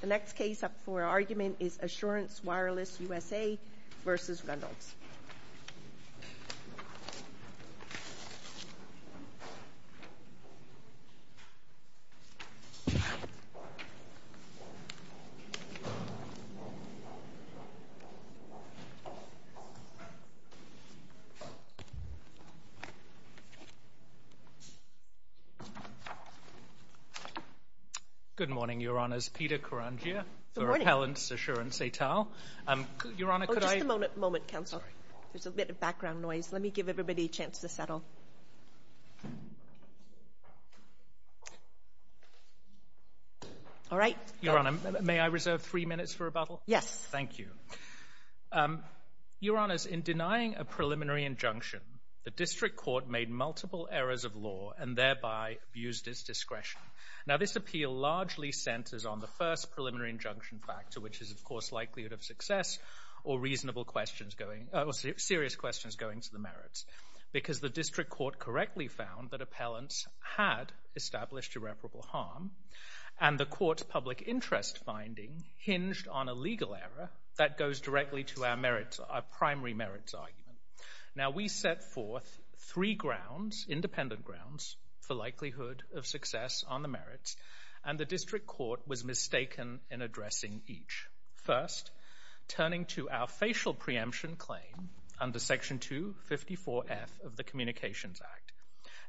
The next case up for argument is Assurance Wireless USA v. Reynolds. Good morning, Your Honors. Peter Karangia, for Appellant's Assurance et al. Your Honor, in denying a preliminary injunction, the District Court made multiple errors of law and thereby abused its discretion. This appeal largely centers on the first preliminary injunction factor, which is, of course, likelihood of success or serious questions going to the merits, because the District Court correctly found that appellants had established irreparable harm and the Court's public interest finding hinged on a legal error that goes directly to our primary merits argument. We set forth three independent grounds for likelihood of each. First, turning to our facial preemption claim under Section 254F of the Communications Act,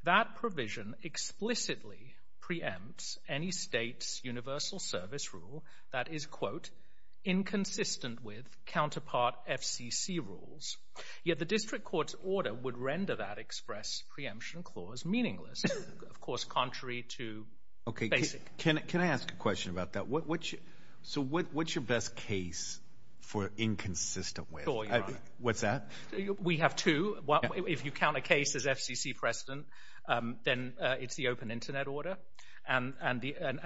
that provision explicitly preempts any State's universal service rule that is, quote, inconsistent with counterpart FCC rules. Yet the District Court's order would render that express preemption clause meaningless, of course, contrary to basic... Okay, can I ask a question about that? So what's your best case for inconsistent with? Your Honor. What's that? We have two. If you count a case as FCC precedent, then it's the Open Internet Order. And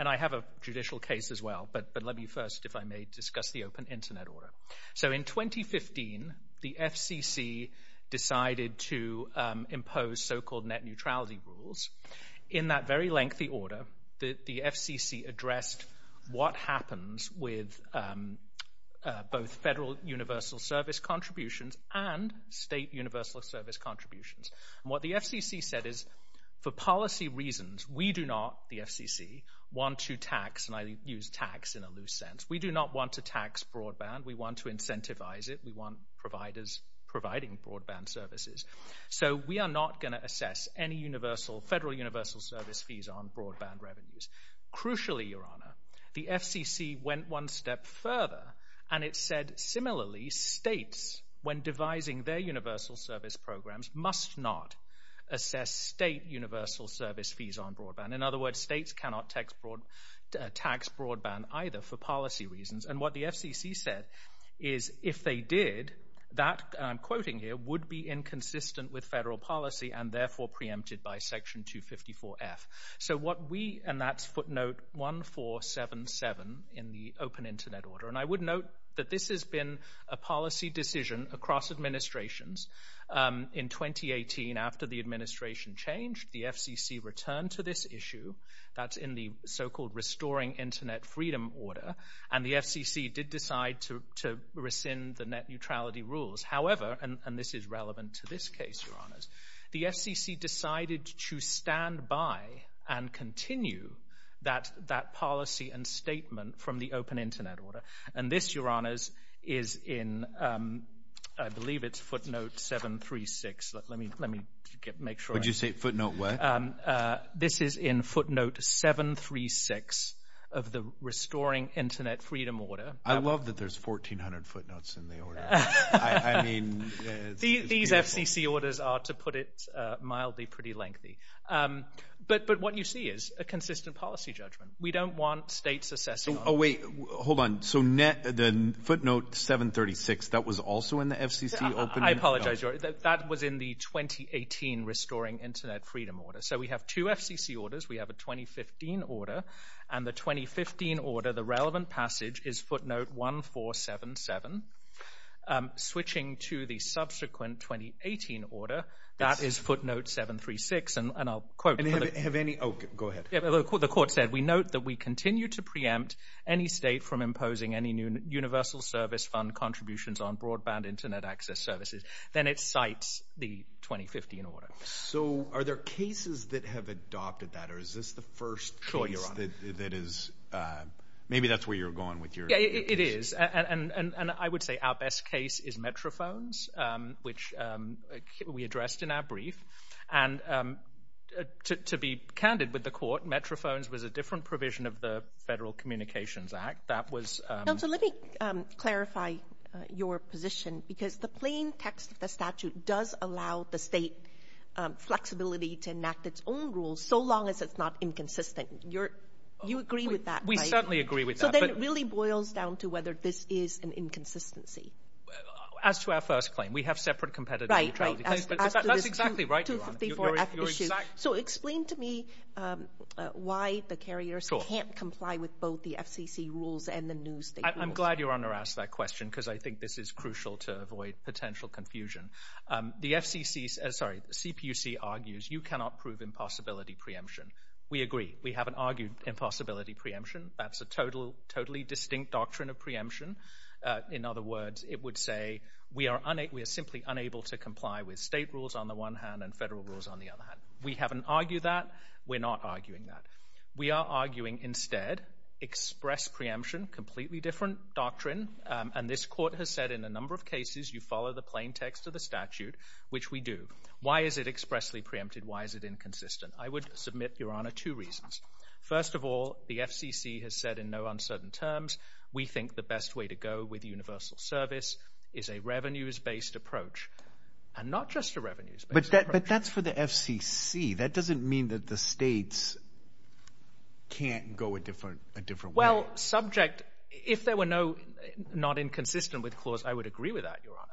I have a judicial case as well, but let me first, if I may, discuss the Open Internet Order. So in 2015, the FCC decided to impose so-called net neutrality rules. In that very lengthy order, the FCC addressed what happens with both Federal universal service contributions and State universal service contributions. And what the FCC said is, for policy reasons, we do not, the FCC, want to tax, and I use tax in a loose sense, we do not want to tax broadband. We want to incentivize it. We want providers providing broadband services. So we are not going to assess any Federal universal service fees on broadband revenues. Crucially, Your Honor, the FCC went one step further, and it said, similarly, States, when devising their universal service programs, must not assess State universal service fees on broadband. In other words, States cannot tax broadband either for policy reasons. And what the FCC said is, if they did, that, I'm quoting here, would be inconsistent with Federal policy and therefore preempted by Section 254F. So what we, and that's footnote 1477 in the Open Internet Order, and I would note that this has been a policy decision across administrations. In 2018, after the administration changed, the FCC returned to this issue, that's in the so-called Restoring Internet Freedom Order, and the FCC did decide to rescind the net neutrality rules. However, and this is relevant to this case, Your Honors, the FCC decided to stand by and continue that policy and statement from the Open Internet Order. And this, Your Honors, is in, I believe it's footnote 736. Let me, let me get, make sure. Would you say footnote what? This is in footnote 736 of the Restoring Internet Freedom Order. I love that there's 1,400 footnotes in the order. I mean. These FCC orders are, to put it mildly, pretty lengthy. But, but what you see is a footnote 736. That was also in the FCC Open Internet Order. I apologize, Your Honor. That was in the 2018 Restoring Internet Freedom Order. So we have two FCC orders. We have a 2015 order, and the 2015 order, the relevant passage, is footnote 1477. Switching to the subsequent 2018 order, that is footnote 736, and I'll quote. And have any, oh, go ahead. The court said, we note that we continue to preempt any state from imposing any new universal service fund contributions on broadband internet access services. Then it cites the 2015 order. So are there cases that have adopted that, or is this the first case that is, maybe that's where you're going with your. It is, and I would say our best case is Metrophones, which we addressed in our brief. And to be candid with the court, Metrophones was a different provision of the Federal Communications Act. That was. Now, so let me clarify your position, because the plain text of the statute does allow the state flexibility to enact its own rules, so long as it's not inconsistent. You're, you agree with that, right? I certainly agree with that. So then it really boils down to whether this is an inconsistency. As to our first claim, we have separate competitive. Right, right. That's exactly right, Your Honor. So explain to me why the carriers can't comply with both the FCC rules and the new state rules. I'm glad Your Honor asked that question, because I think this is crucial to avoid potential confusion. The FCC, sorry, the CPUC argues you cannot prove impossibility preemption. We agree. We haven't argued impossibility preemption. That's a totally distinct doctrine of preemption. In other words, it would say we are simply unable to comply with state rules on the one hand and federal rules on the other hand. We haven't argued that. We're not arguing that. We are arguing instead express preemption, completely different doctrine, and this court has said in a number of cases you follow the plain text of the statute, which we do. Why is it expressly preempted? Why is it inconsistent? I would submit, Your Honor, two reasons. First of all, the FCC has said in no uncertain terms we think the best way to go with universal service is a revenues-based approach, and not just a revenues-based approach. But that's for the FCC. That doesn't mean that the states can't go a different way. Well, subject, if there were no not inconsistent with the clause, I would agree with that, Your Honor.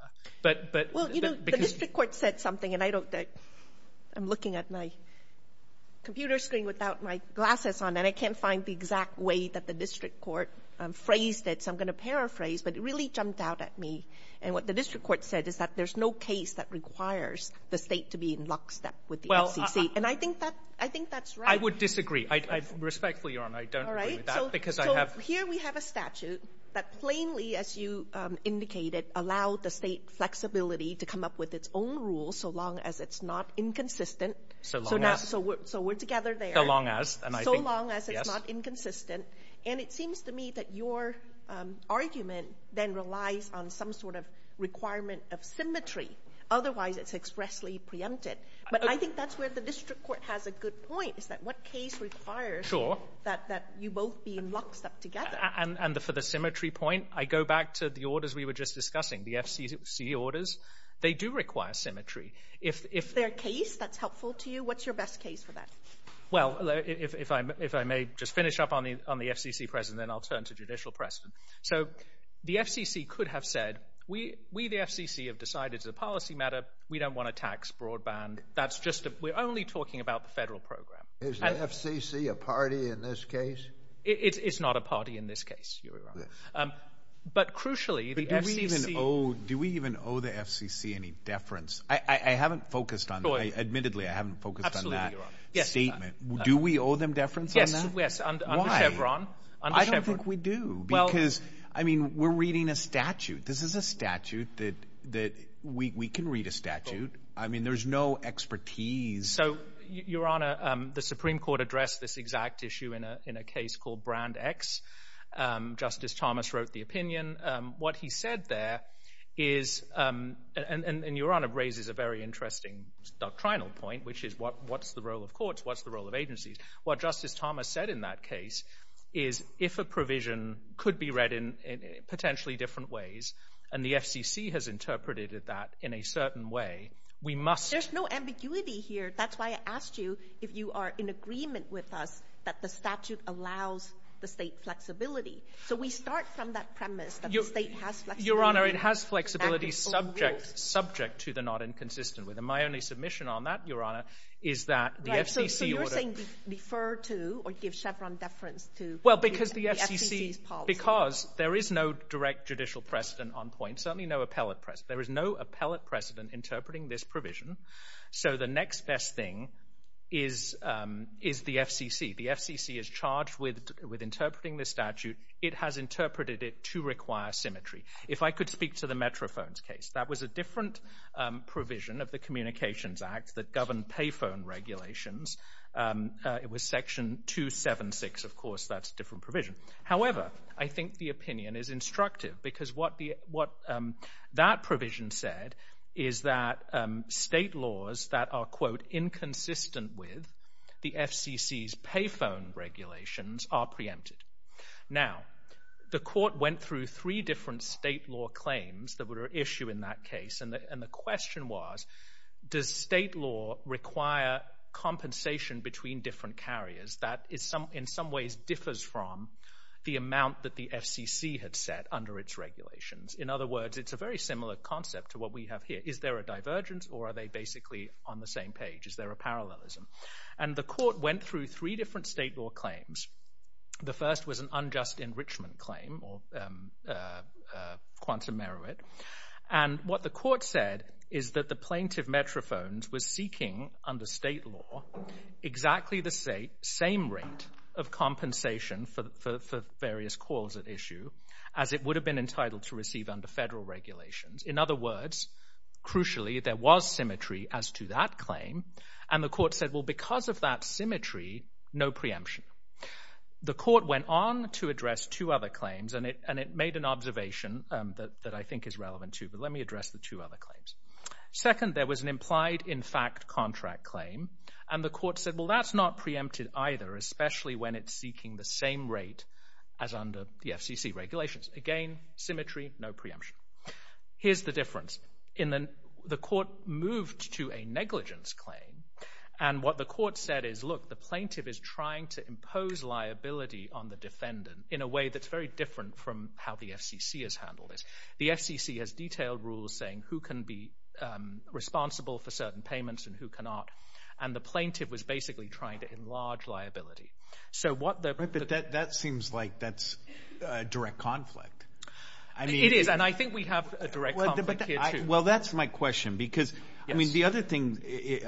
Well, you know, the district court said something, and I'm looking at my computer screen without my glasses on, and I can't find the exact way that the district court phrased it, so I'm going to paraphrase, but it really jumped out at me. And what the district court said is that there's no case that requires the state to be in lockstep with the FCC. And I think that's right. I would disagree. Respectfully, Your Honor, I don't agree with that. All right. So here we have a statute that plainly, as you indicated, allowed the state flexibility to come up with its own rules so long as it's not inconsistent. So long as. So we're together there. So long as. So long as it's not inconsistent. And it seems to me that your argument then relies on some sort of requirement of symmetry. Otherwise, it's expressly preempted. But I think that's where the district court has a good point is that what case requires that you both be in lockstep together. And for the symmetry point, I go back to the orders we were just discussing, the FCC orders. They do require symmetry. If they're a case, that's helpful to you. What's your best case for that? Well, if I may just finish up on the FCC precedent, then I'll turn to judicial precedent. So the FCC could have said, we, the FCC, have decided as a policy matter we don't want to tax broadband. We're only talking about the federal program. Is the FCC a party in this case? It's not a party in this case, Your Honor. But crucially, the FCC. Do we even owe the FCC any deference? Admittedly, I haven't focused on that statement. Do we owe them deference on that? Yes, under Chevron. Why? I don't think we do because, I mean, we're reading a statute. This is a statute that we can read a statute. I mean, there's no expertise. So, Your Honor, the Supreme Court addressed this exact issue in a case called Brand X. Justice Thomas wrote the opinion. What he said there is, and Your Honor raises a very interesting doctrinal point, which is what's the role of courts? What's the role of agencies? What Justice Thomas said in that case is if a provision could be read in potentially different ways, and the FCC has interpreted that in a certain way, we must. There's no ambiguity here. That's why I asked you if you are in agreement with us that the statute allows the state flexibility. So we start from that premise that the state has flexibility. Your Honor, it has flexibility subject to the not inconsistent with. My only submission on that, Your Honor, is that the FCC ought to. So you're saying refer to or give Chevron deference to the FCC's policy. Because there is no direct judicial precedent on point, certainly no appellate precedent. There is no appellate precedent interpreting this provision. So the next best thing is the FCC. The FCC is charged with interpreting this statute. It has interpreted it to require symmetry. If I could speak to the Metrophones case. That was a different provision of the Communications Act that governed payphone regulations. It was Section 276, of course. That's a different provision. However, I think the opinion is instructive because what that provision said is that state laws that are, quote, inconsistent with the FCC's payphone regulations are preempted. Now, the court went through three different state law claims that were at issue in that case. And the question was, does state law require compensation between different carriers? That, in some ways, differs from the amount that the FCC had set under its regulations. In other words, it's a very similar concept to what we have here. Is there a divergence or are they basically on the same page? Is there a parallelism? And the court went through three different state law claims. The first was an unjust enrichment claim or quantum merit. And what the court said is that the plaintiff, Metrophones, was seeking under state law exactly the same rate of compensation for various calls at issue as it would have been entitled to receive under federal regulations. In other words, crucially, there was symmetry as to that claim. And the court said, well, because of that symmetry, no preemption. The court went on to address two other claims, and it made an observation that I think is relevant, too. But let me address the two other claims. Second, there was an implied, in fact, contract claim. And the court said, well, that's not preempted either, especially when it's seeking the same rate as under the FCC regulations. Again, symmetry, no preemption. Here's the difference. The court moved to a negligence claim. And what the court said is, look, the plaintiff is trying to impose liability on the defendant in a way that's very different from how the FCC has handled this. The FCC has detailed rules saying who can be responsible for certain payments and who cannot. And the plaintiff was basically trying to enlarge liability. But that seems like that's a direct conflict. It is, and I think we have a direct conflict here, too. Well, that's my question. Because, I mean, the other thing,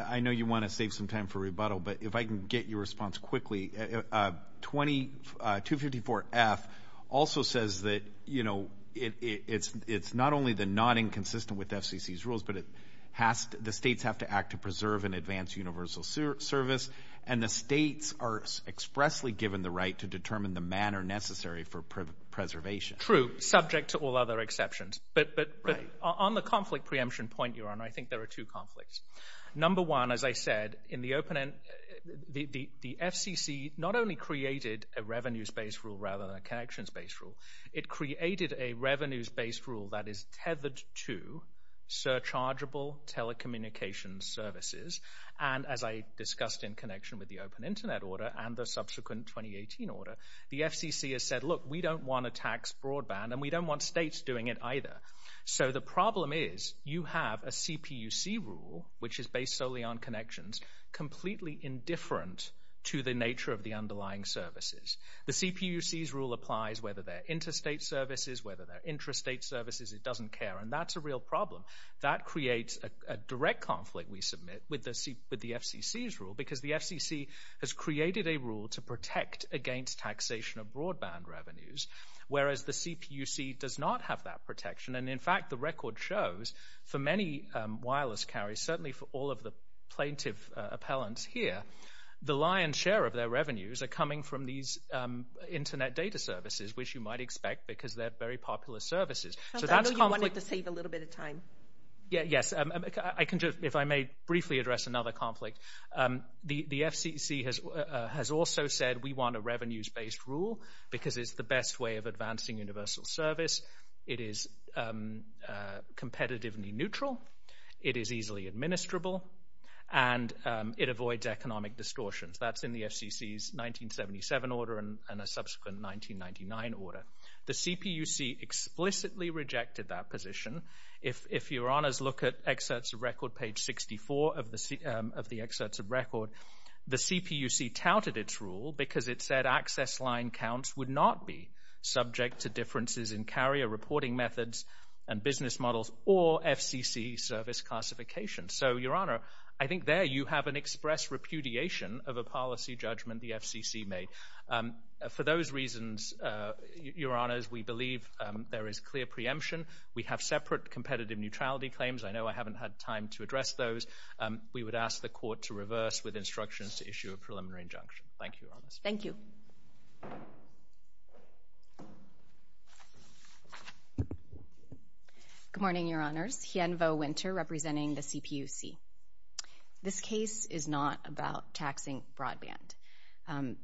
I know you want to save some time for rebuttal, but if I can get your response quickly, 254F also says that, you know, it's not only the not inconsistent with FCC's rules, but the states have to act to preserve and advance universal service, and the states are expressly given the right to determine the manner necessary for preservation. True, subject to all other exceptions. But on the conflict preemption point, Your Honor, I think there are two conflicts. Number one, as I said, the FCC not only created a revenues-based rule rather than a connections-based rule, it created a revenues-based rule that is tethered to surchargeable telecommunications services. And as I discussed in connection with the Open Internet Order and the subsequent 2018 order, the FCC has said, look, we don't want to tax broadband, and we don't want states doing it either. So the problem is you have a CPUC rule, which is based solely on connections, completely indifferent to the nature of the underlying services. The CPUC's rule applies whether they're interstate services, whether they're intrastate services. It doesn't care, and that's a real problem. That creates a direct conflict, we submit, with the FCC's rule, because the FCC has created a rule to protect against taxation of broadband revenues, whereas the CPUC does not have that protection. And, in fact, the record shows for many wireless carriers, certainly for all of the plaintiff appellants here, the lion's share of their revenues are coming from these Internet data services, which you might expect because they're very popular services. I know you wanted to save a little bit of time. Yes, if I may briefly address another conflict. The FCC has also said we want a revenues-based rule because it's the best way of advancing universal service, it is competitively neutral, it is easily administrable, and it avoids economic distortions. That's in the FCC's 1977 order and a subsequent 1999 order. The CPUC explicitly rejected that position. If your honors look at excerpts of record, page 64 of the excerpts of record, the CPUC touted its rule because it said access line counts would not be subject to differences in carrier reporting methods and business models or FCC service classification. So, your honor, I think there you have an express repudiation of a policy judgment the FCC made. For those reasons, your honors, we believe there is clear preemption. We have separate competitive neutrality claims. I know I haven't had time to address those. We would ask the court to reverse with instructions to issue a preliminary injunction. Thank you, your honors. Thank you. Good morning, your honors. Hien Vo Winter representing the CPUC. This case is not about taxing broadband.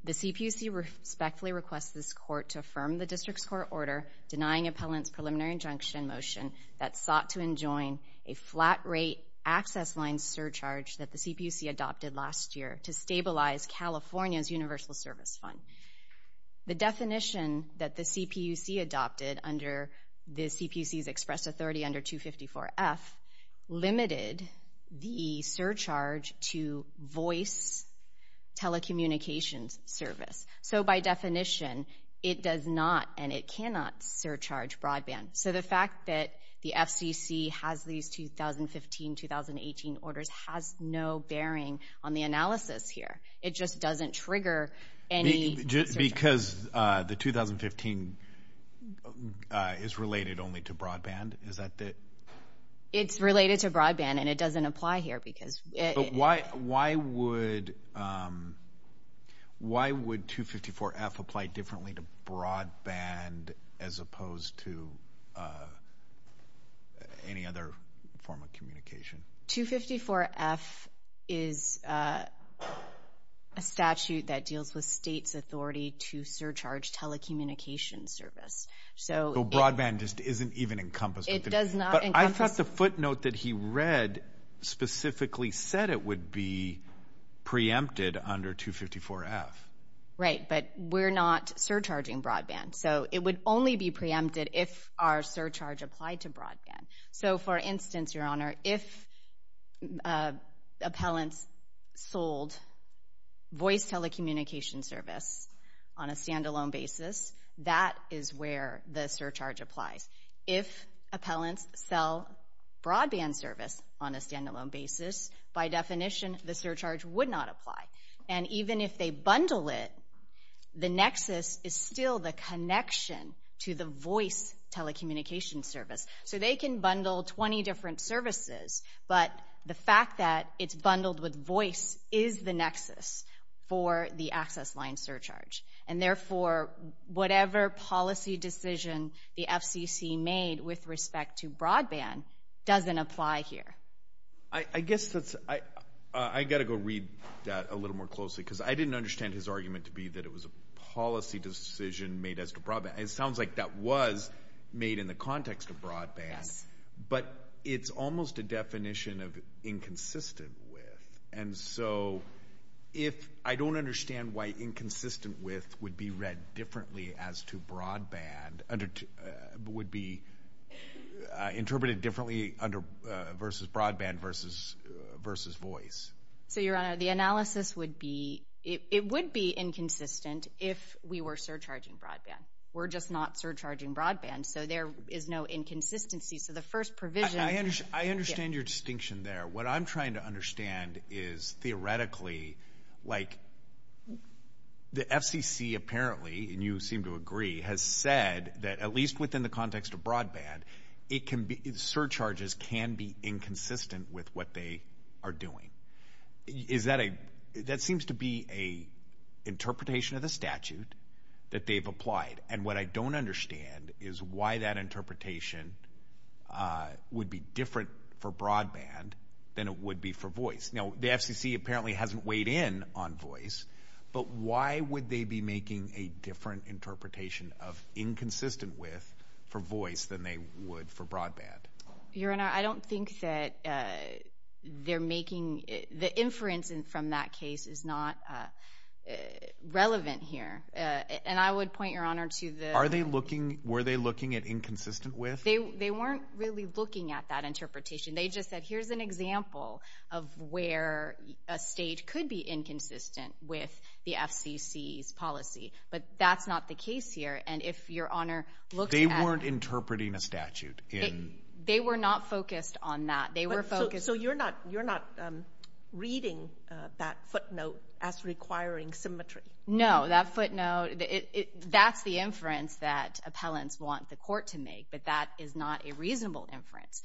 The CPUC respectfully requests this court to affirm the district's court order denying appellant's preliminary injunction motion that sought to enjoin a flat rate access line surcharge that the CPUC adopted last year to stabilize California's universal service fund. The definition that the CPUC adopted under the CPUC's express authority under 254F limited the surcharge to voice telecommunications service. So, by definition, it does not and it cannot surcharge broadband. So, the fact that the FCC has these 2015-2018 orders has no bearing on the analysis here. It just doesn't trigger any surcharge. Because the 2015 is related only to broadband, is that the? It's related to broadband and it doesn't apply here because it. Why would 254F apply differently to broadband as opposed to any other form of communication? 254F is a statute that deals with state's authority to surcharge telecommunications service. So, broadband just isn't even encompassed. It does not encompass. What's the footnote that he read specifically said it would be preempted under 254F? Right, but we're not surcharging broadband. So, it would only be preempted if our surcharge applied to broadband. So, for instance, Your Honor, if appellants sold voice telecommunications service on a standalone basis, that is where the surcharge applies. If appellants sell broadband service on a standalone basis, by definition, the surcharge would not apply. And even if they bundle it, the nexus is still the connection to the voice telecommunications service. So, they can bundle 20 different services, but the fact that it's bundled with voice is the nexus for the access line surcharge. And, therefore, whatever policy decision the FCC made with respect to broadband doesn't apply here. I guess that's – I got to go read that a little more closely because I didn't understand his argument to be that it was a policy decision made as to broadband. It sounds like that was made in the context of broadband. Yes. But it's almost a definition of inconsistent with. And so, if I don't understand why inconsistent with would be read differently as to broadband, would be interpreted differently versus broadband versus voice. So, Your Honor, the analysis would be – it would be inconsistent if we were surcharging broadband. We're just not surcharging broadband. So, there is no inconsistency. So, the first provision – I understand your distinction there. What I'm trying to understand is, theoretically, like the FCC apparently, and you seem to agree, has said that at least within the context of broadband, it can be – surcharges can be inconsistent with what they are doing. Is that a – that seems to be an interpretation of the statute that they've applied. And what I don't understand is why that interpretation would be different for broadband than it would be for voice. Now, the FCC apparently hasn't weighed in on voice, but why would they be making a different interpretation of inconsistent with for voice than they would for broadband? Your Honor, I don't think that they're making – the inference from that case is not relevant here. And I would point, Your Honor, to the – Are they looking – were they looking at inconsistent with? They weren't really looking at that interpretation. They just said, here's an example of where a state could be inconsistent with the FCC's policy. But that's not the case here. And if Your Honor looks at – They weren't interpreting a statute in – They were not focused on that. They were focused – So, you're not – you're not reading that footnote as requiring symmetry? No, that footnote – that's the inference that appellants want the court to make, but that is not a reasonable inference.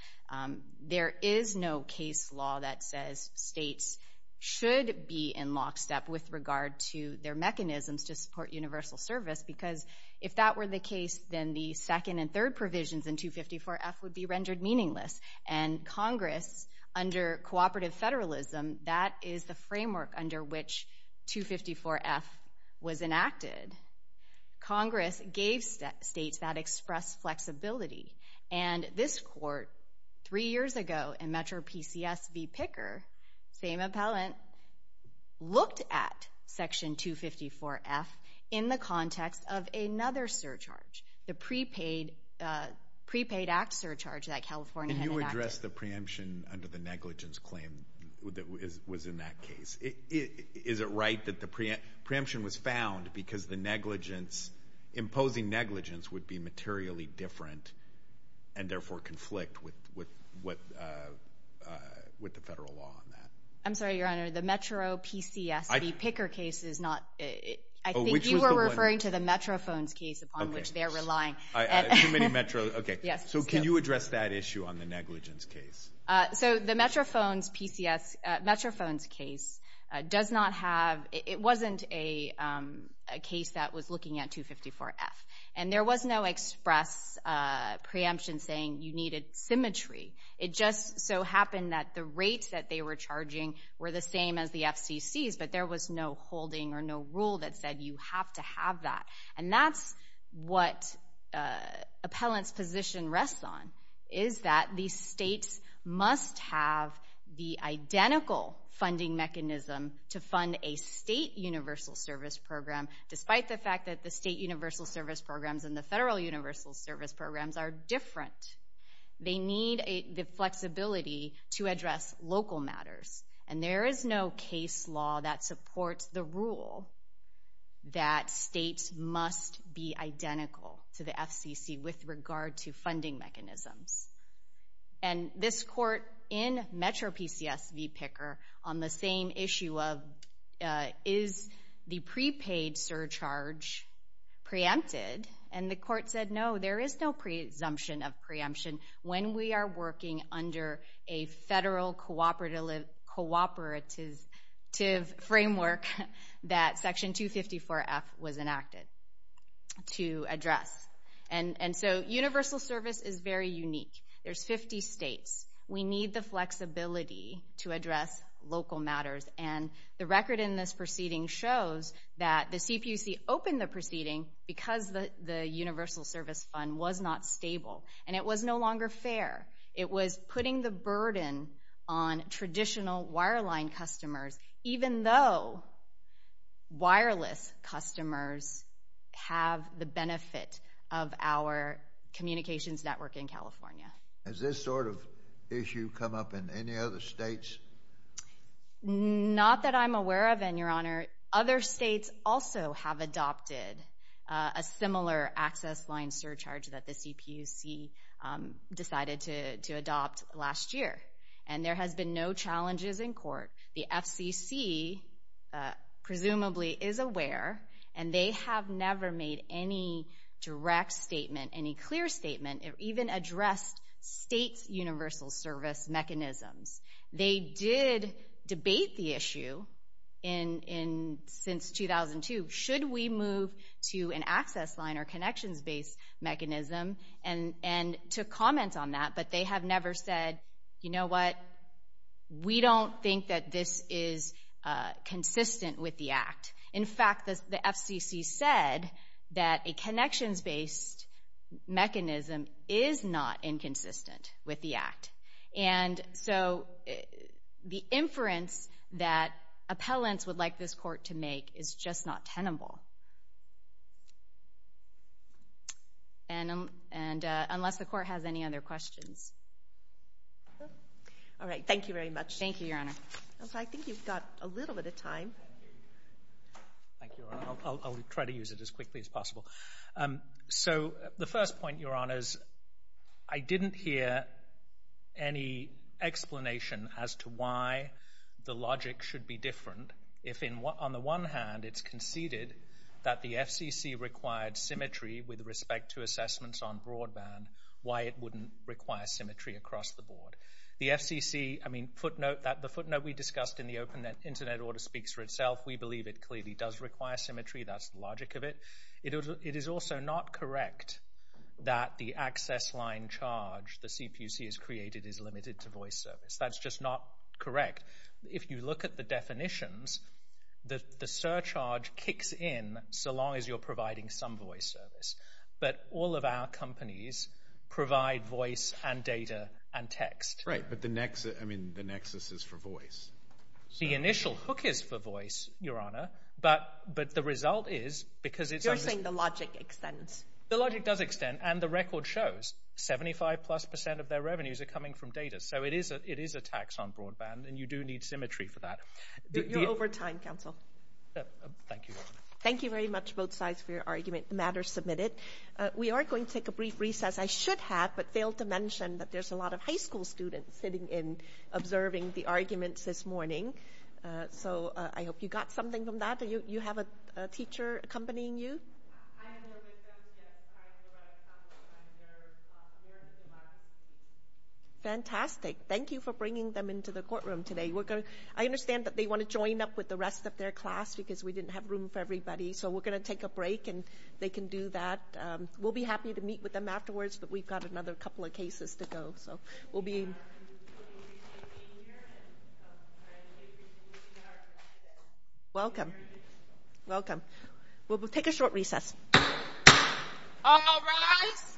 There is no case law that says states should be in lockstep with regard to their mechanisms to support universal service, because if that were the case, then the second and third provisions in 254F would be rendered meaningless. And Congress, under cooperative federalism, that is the framework under which 254F was enacted. Congress gave states that express flexibility. And this court, three years ago, in Metro PCS v. Picker, same appellant, looked at Section 254F in the context of another surcharge, the prepaid act surcharge that California had enacted. Can you address the preemption under the negligence claim that was in that case? Is it right that the preemption was found because the negligence – imposing negligence would be materially different and therefore conflict with the federal law on that? I'm sorry, Your Honor. The Metro PCS v. Picker case is not – I think you were referring to the Metro phones case upon which they're relying. Too many Metro – okay. So can you address that issue on the negligence case? So the Metro phones PCS – Metro phones case does not have – it wasn't a case that was looking at 254F. And there was no express preemption saying you needed symmetry. It just so happened that the rates that they were charging were the same as the FCC's, but there was no holding or no rule that said you have to have that. And that's what appellant's position rests on, is that these states must have the identical funding mechanism to fund a state universal service program, despite the fact that the state universal service programs and the federal universal service programs are different. They need the flexibility to address local matters. And there is no case law that supports the rule that states must be identical to the FCC with regard to funding mechanisms. And this court in Metro PCS v. Picker on the same issue of is the prepaid surcharge preempted, and the court said no, there is no presumption of preemption when we are working under a federal cooperative framework that Section 254F was enacted to address. And so universal service is very unique. There's 50 states. We need the flexibility to address local matters. And the record in this proceeding shows that the CPUC opened the proceeding because the universal service fund was not stable. And it was no longer fair. It was putting the burden on traditional wireline customers, even though wireless customers have the benefit of our communications network in California. Has this sort of issue come up in any other states? Not that I'm aware of, Your Honor. Other states also have adopted a similar access line surcharge that the CPUC decided to adopt last year. And there has been no challenges in court. The FCC presumably is aware, and they have never made any direct statement, any clear statement, or even addressed state's universal service mechanisms. They did debate the issue since 2002, should we move to an access line or connections-based mechanism, and took comments on that. But they have never said, you know what, we don't think that this is consistent with the Act. In fact, the FCC said that a connections-based mechanism is not inconsistent with the Act. And so the inference that appellants would like this court to make is just not tenable. And unless the court has any other questions. All right, thank you very much. Thank you, Your Honor. I think you've got a little bit of time. Thank you, Your Honor. I'll try to use it as quickly as possible. So the first point, Your Honors, I didn't hear any explanation as to why the logic should be different, if on the one hand it's conceded that the FCC required symmetry with respect to assessments on broadband, why it wouldn't require symmetry across the board. The FCC, I mean, footnote, the footnote we discussed in the open internet order speaks for itself. We believe it clearly does require symmetry. That's the logic of it. It is also not correct that the access line charge the CPC has created is limited to voice service. That's just not correct. If you look at the definitions, the surcharge kicks in so long as you're providing some voice service. But all of our companies provide voice and data and text. Right, but the nexus is for voice. The initial hook is for voice, Your Honor. But the result is because it's on the- You're saying the logic extends. The logic does extend, and the record shows 75-plus percent of their revenues are coming from data. So it is a tax on broadband, and you do need symmetry for that. You're over time, counsel. Thank you, Your Honor. Thank you very much, both sides, for your argument. The matter is submitted. We are going to take a brief recess. I should have but failed to mention that there's a lot of high school students sitting in observing the arguments this morning. So I hope you got something from that. Do you have a teacher accompanying you? I am there with them. Yes, I am the right counsel. I'm their American law teacher. Fantastic. Thank you for bringing them into the courtroom today. I understand that they want to join up with the rest of their class because we didn't have room for everybody. So we're going to take a break, and they can do that. We'll be happy to meet with them afterwards, but we've got another couple of cases to go. So we'll be in. Welcome. Welcome. We'll take a short recess. All rise.